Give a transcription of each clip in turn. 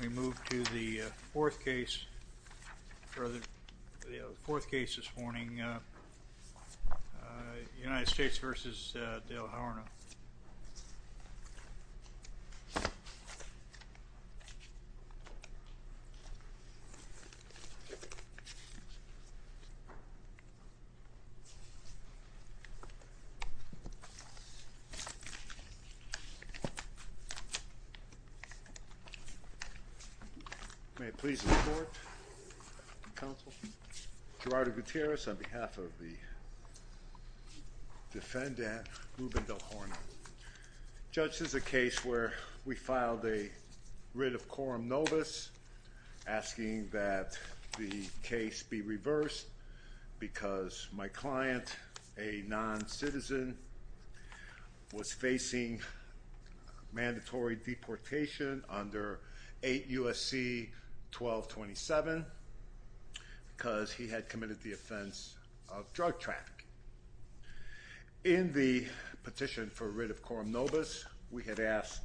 we move to the fourth case for the fourth case this morning United States v. Delhorno May it please the court, counsel. Gerardo Gutierrez on behalf of the defendant Ruben Delhorno. Judge, this is a case where we filed a writ of quorum novus asking that the case be reversed because my client, a non-citizen, was facing mandatory deportation under 8 U.S.C. 1227 because he had committed the offense of drug trafficking. In the petition for writ of quorum novus we had asked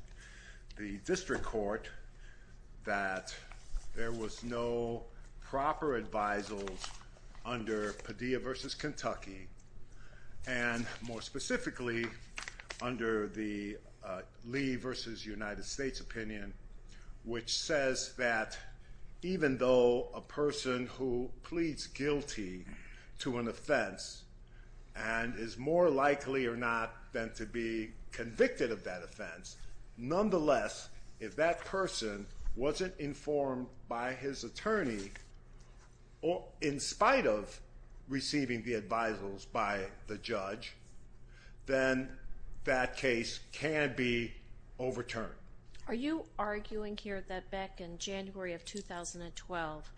the district court that there was no proper advisals under Padilla v. Kentucky and more specifically under the Lee v. United States opinion which says that even though a person who pleads guilty to an offense and is more likely or not than to be convicted of that offense, nonetheless if that person wasn't informed by his attorney or in spite of receiving the advisals by the judge then that case can be overturned. Are you arguing here that back in January of 2012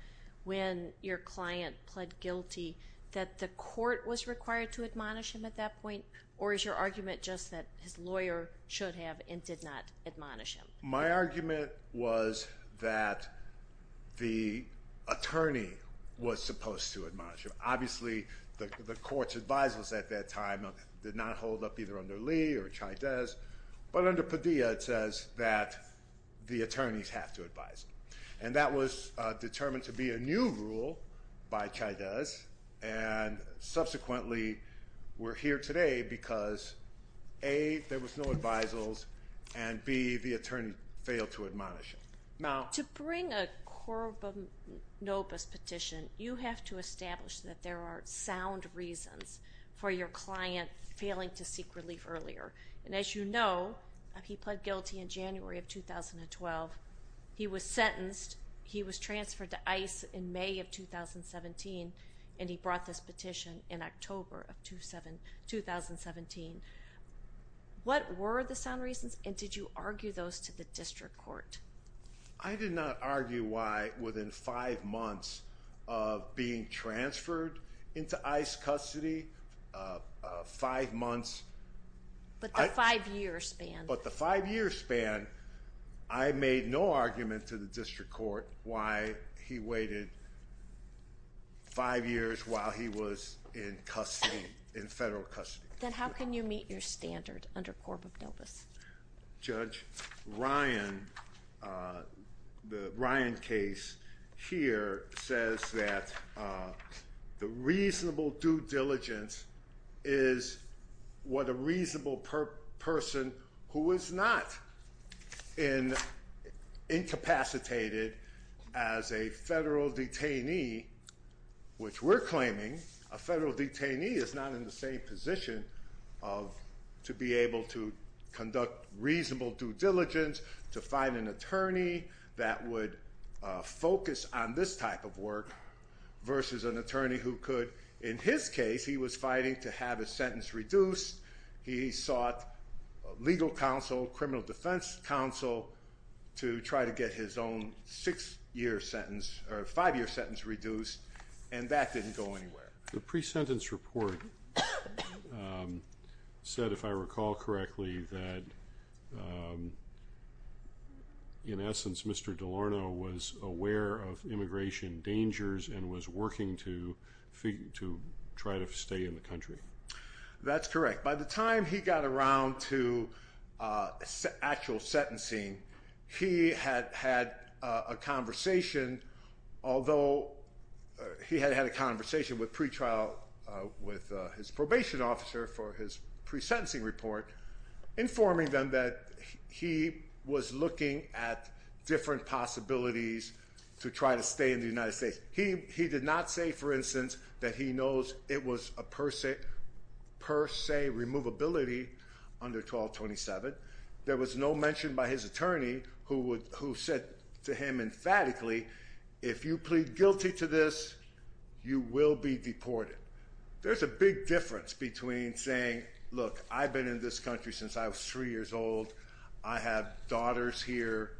when your client pled guilty that the court was required to admonish him at that point or is your argument just that his lawyer should have and did not the attorney was supposed to admonish him? Obviously the court's advisals at that time did not hold up either under Lee or Chydez but under Padilla it says that the attorneys have to advise him and that was determined to be a new rule by Chydez and subsequently we're here today because A. there was no advisals and B. the attorney failed to admonish him. Now to bring a corbonobus petition you have to establish that there are sound reasons for your client failing to seek relief earlier and as you know he pled guilty in January of 2012 he was sentenced he was transferred to ICE in May of 2017 and he brought this petition in October of 2017. What were the sound reasons and did you argue those to the district court? I did not argue why within five months of being transferred into ICE custody five months. But the five year span. But the five year span I made no argument to the district court why he waited five years while he was in custody in federal custody. Then how can you meet your standard under corbonobus? Judge Ryan the Ryan case here says that the reasonable due diligence is what a reasonable person who is not in incapacitated as a federal detainee which we're claiming a federal detainee is not in the same position of to be able to conduct reasonable due diligence to find an attorney that would focus on this type of work versus an attorney who could in his case he was fighting to have a sentence reduced he sought legal counsel criminal defense counsel to try to get his own six-year sentence or five-year sentence reduced and that didn't go anywhere. The pre-sentence report said if I recall correctly that in essence Mr. DeLarno was aware of immigration dangers and was working to figure to try to stay in the country. That's correct by the time he got around to actual sentencing he had had a conversation although he had had a conversation with pretrial with his probation officer for his pre-sentencing report informing them that he was looking at different possibilities to try to stay in the United States. He he did not say for instance that he knows it was a per se removability under 1227. There was no mention by his attorney who would who said to him emphatically if you plead guilty to this you will be deported. There's a big difference between saying look I've been in this country since I was three years old I have daughters here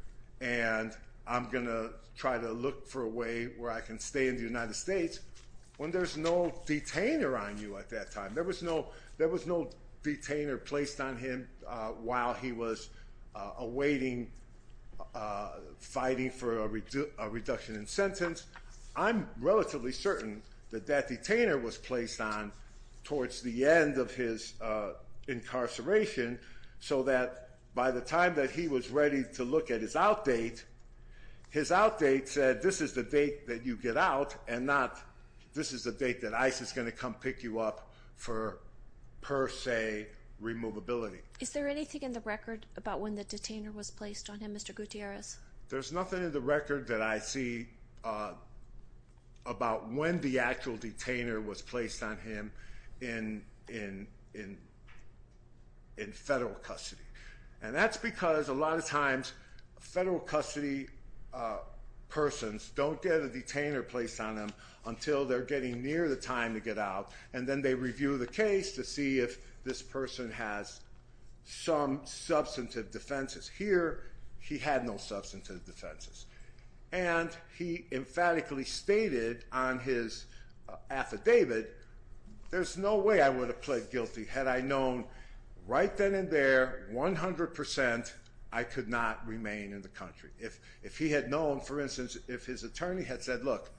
and I'm gonna try to look for a way where I can stay in the United States when there's no detainer on you at that time. There was no there was no detainer placed on him while he was awaiting fighting for a reduction in sentence. I'm relatively certain that that detainer was placed on towards the end of his incarceration so that by the time that he was ready to look at his out date his out date said this is the date that you get out and not this is the date that ICE is going to come pick you up for per se removability. Is there anything in the record about when the detainer was placed on him Mr. Gutierrez? There's nothing in the record that I see about when the actual detainer was placed on him in in in in federal custody and that's because a lot of times federal custody persons don't get a detainer placed on them until they're getting near the time to get out and then they review the case to see if this person has some substantive defenses. Here he had no substantive defenses and he emphatically stated on his affidavit there's no way I would have pled guilty had I known right then and there 100% I could not remain in the country. If if he had known for instance if his attorney had said look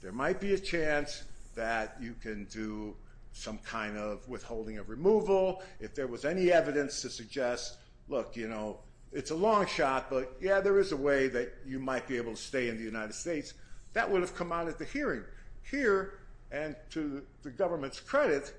there might be a chance that you can do some kind of withholding of removal if there was any evidence to suggest look you know it's a long shot but yeah there is a way that you might be able to stay in the United States that would have come out at the hearing. Here and to the government's credit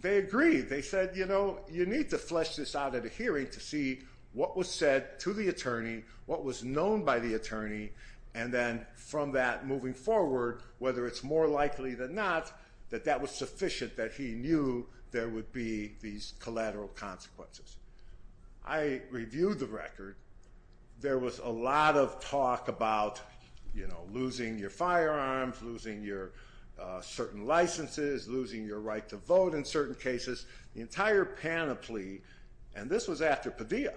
they agreed they said you know you need to flesh this out at a hearing to see what was said to the attorney what was known by the attorney and then from that moving forward whether it's more likely than not that that was sufficient that he knew there would be these collateral consequences. I reviewed the record there was a lot of talk about you know losing your firearms losing your certain licenses losing your right to vote in certain cases the entire panoply and this was after Padilla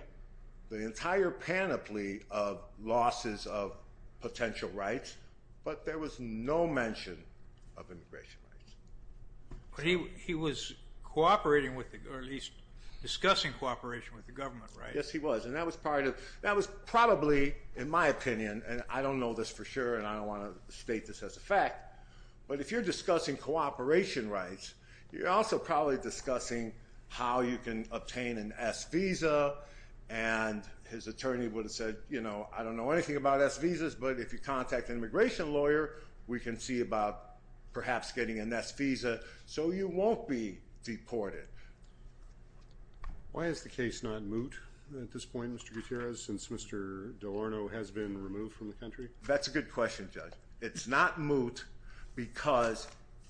the entire panoply of losses of potential rights but there was no mention of immigration rights. He was cooperating with or at least discussing cooperation with the government right? Yes he was and that was part of that was probably in my opinion and I don't know this for sure and I don't want to state this as a fact but if you're discussing cooperation rights you're also probably discussing how you can obtain an S visa and his attorney would have said you know I don't know anything about S visas but if you contact an immigration lawyer we can see about perhaps getting an S visa so you won't be deported. Why is the case not since Mr. Delorno has been removed from the country? That's a good question judge it's not moot because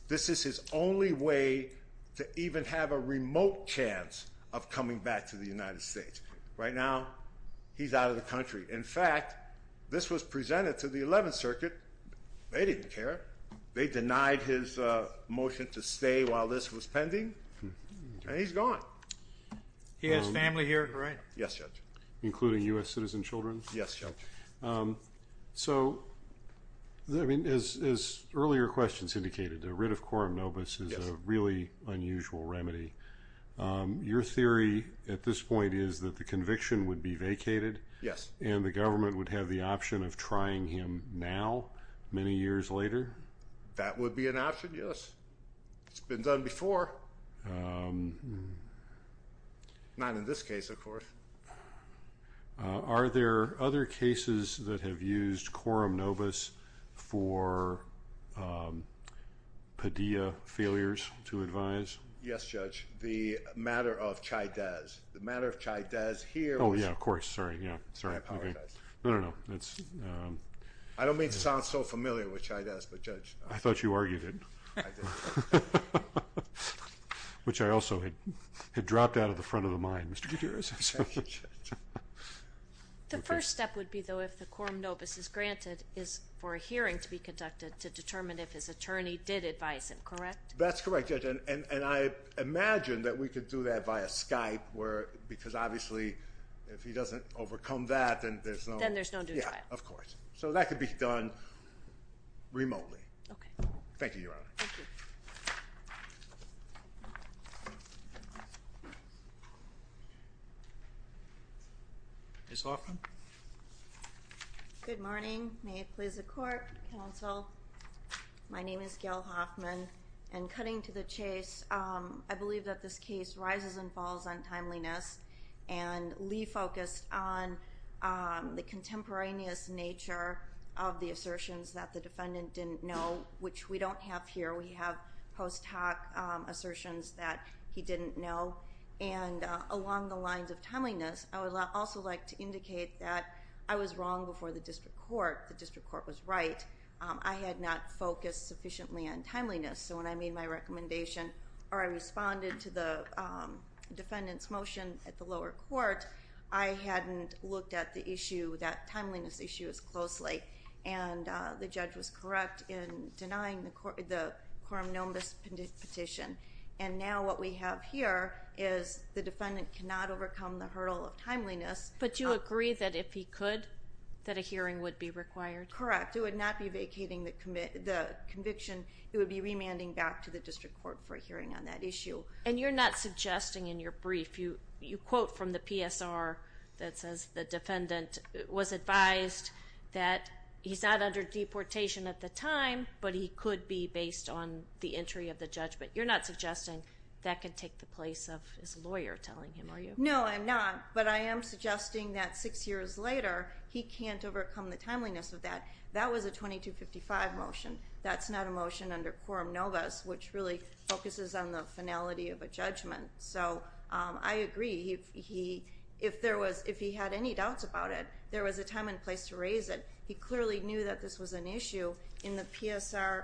this is his only way to even have a remote chance of coming back to the United States. Right now he's out of the country in fact this was presented to the 11th Circuit they didn't care they denied his motion to Yes judge. So I mean as earlier questions indicated the writ of quorum nobis is a really unusual remedy. Your theory at this point is that the conviction would be vacated? Yes. And the government would have the option of trying him now many years later? That would be an option yes it's been done before not in this case of course. Are there other cases that have used quorum nobis for Padilla failures to advise? Yes judge the matter of Chydez the matter of Chydez here oh yeah of course sorry yeah sorry I apologize no no that's I don't mean to sound so familiar with Chydez but judge I thought you argued it which I also had had dropped out of the front of the mind Mr. Gutierrez. The first step would be though if the quorum nobis is granted is for a hearing to be conducted to determine if his attorney did advise him correct? That's correct and and and I imagine that we could do that via Skype where because obviously if he doesn't overcome that and there's no then there's no yeah of course so that could be done remotely. Okay. Thank you your honor. Ms. Hoffman. Good morning may it please the court counsel my name is Gail Hoffman and cutting to the chase I believe that this case rises and falls on timeliness and Lee focused on the contemporaneous nature of the assertions that the defendant didn't know which we don't have here we have post hoc assertions that he didn't know and along the lines of timeliness I would also like to indicate that I was wrong before the district court the district court was right I had not focused sufficiently on timeliness so when I made my responded to the defendant's motion at the lower court I hadn't looked at the issue that timeliness issue as closely and the judge was correct in denying the court the quorum nobis petition and now what we have here is the defendant cannot overcome the hurdle of timeliness. But you agree that if he could that a hearing would be required? Correct it would not be vacating the commit the conviction it would be remanding back to the district court for a hearing on that issue. And you're not suggesting in your brief you you quote from the PSR that says the defendant was advised that he's not under deportation at the time but he could be based on the entry of the judgment you're not suggesting that can take the place of his lawyer telling him are you? No I'm not but I am suggesting that six years later he can't overcome the timeliness of that that was a 2255 motion that's not a motion under quorum nobis which really focuses on the finality of a judgment so I agree he if there was if he had any doubts about it there was a time and place to raise it he clearly knew that this was an issue in the PSR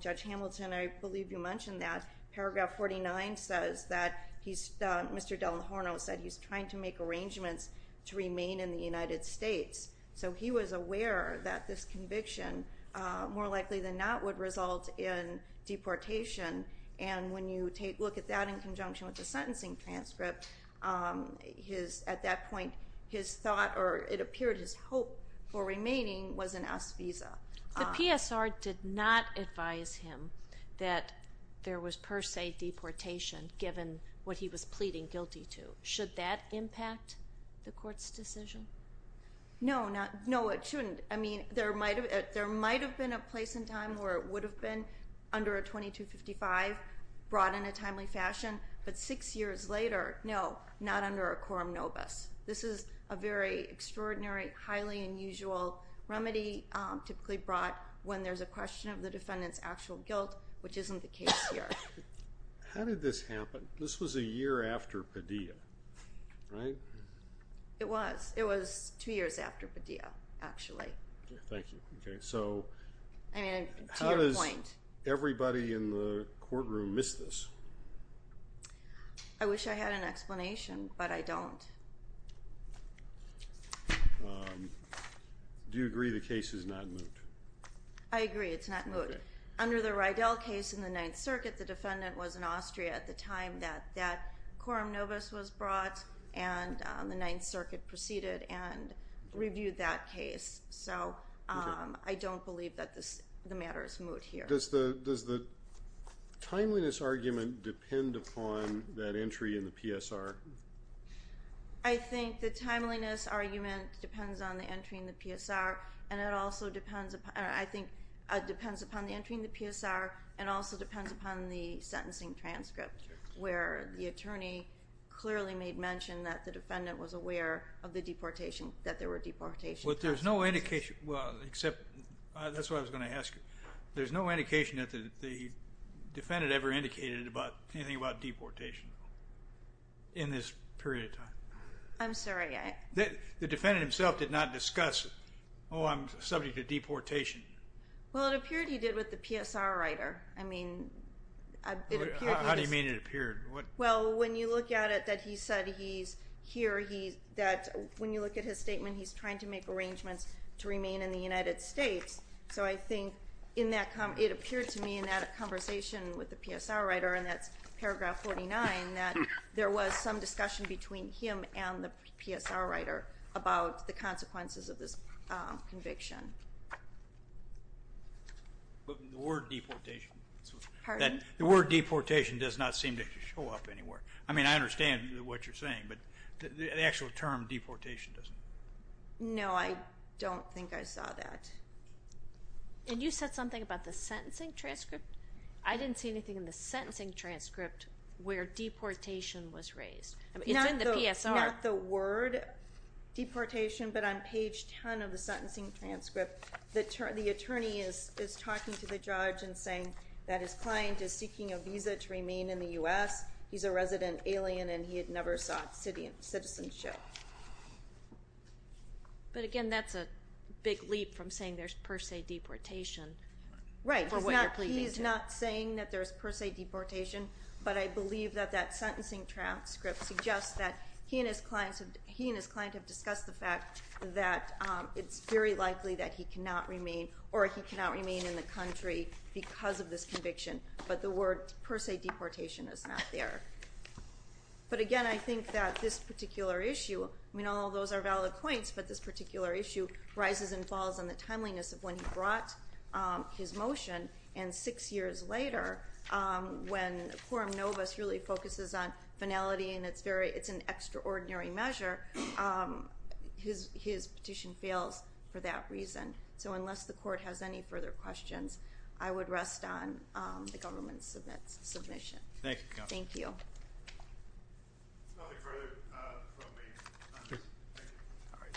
Judge Hamilton I believe you mentioned that paragraph 49 says that he's Mr. Del Horno said he's trying to make arrangements to remain in the more likely than not would result in deportation and when you take look at that in conjunction with the sentencing transcript his at that point his thought or it appeared his hope for remaining was an S visa. The PSR did not advise him that there was per se deportation given what he was pleading guilty to should that impact the court's decision? No not no it shouldn't I mean there might have been a place in time where it would have been under a 2255 brought in a timely fashion but six years later no not under a quorum nobis this is a very extraordinary highly unusual remedy typically brought when there's a question of the defendants actual guilt which isn't the case here. How did this happen this was a year after Padilla right? It was it was two years after Padilla actually. Thank you okay so how does everybody in the courtroom miss this? I wish I had an explanation but I don't. Do you agree the case is not moot? I agree it's not moot under the Riedel case in the Ninth Circuit the defendant was in Austria at the time that that quorum nobis was brought and the Ninth Circuit reviewed that case so I don't believe that this the matter is moot here. Does the does the timeliness argument depend upon that entry in the PSR? I think the timeliness argument depends on the entry in the PSR and it also depends upon I think it depends upon the entry in the PSR and also depends upon the sentencing transcript where the attorney clearly made mention that the defendant was deportation. But there's no indication well except that's what I was going to ask you there's no indication that the defendant ever indicated about anything about deportation in this period of time. I'm sorry. The defendant himself did not discuss oh I'm subject to deportation. Well it appeared he did with the PSR writer I mean. How do you mean it appeared? Well when you look at it that he said he's here he that when you look at his statement he's trying to make arrangements to remain in the United States so I think in that come it appeared to me in that a conversation with the PSR writer and that's paragraph 49 that there was some discussion between him and the PSR writer about the consequences of this conviction. The word deportation does not seem to show up anywhere. I mean I understand what you're saying but the actual term deportation doesn't. No I don't think I saw that. And you said something about the sentencing transcript? I didn't see anything in the sentencing transcript where deportation was raised. Not the word deportation but on page 10 of the sentencing transcript the attorney is talking to the judge and saying that his client is seeking a visa to remain in the U.S. He's a resident alien and he had never sought citizenship. But again that's a big leap from saying there's per se deportation. Right. He's not saying that there's per se deportation but I believe that that sentencing transcript suggests that he and his clients have he and his client have discussed the fact that it's very this conviction but the word per se deportation is not there. But again I think that this particular issue I mean all those are valid points but this particular issue rises and falls on the timeliness of when he brought his motion and six years later when Quorum Novus really focuses on finality and it's very it's an extraordinary measure his petition fails for that reason. So unless the court has any further questions I would rest on the government's submission. Thank you.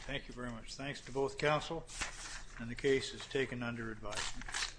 Thank you very much. Thanks to both counsel and the case is taken under advisement.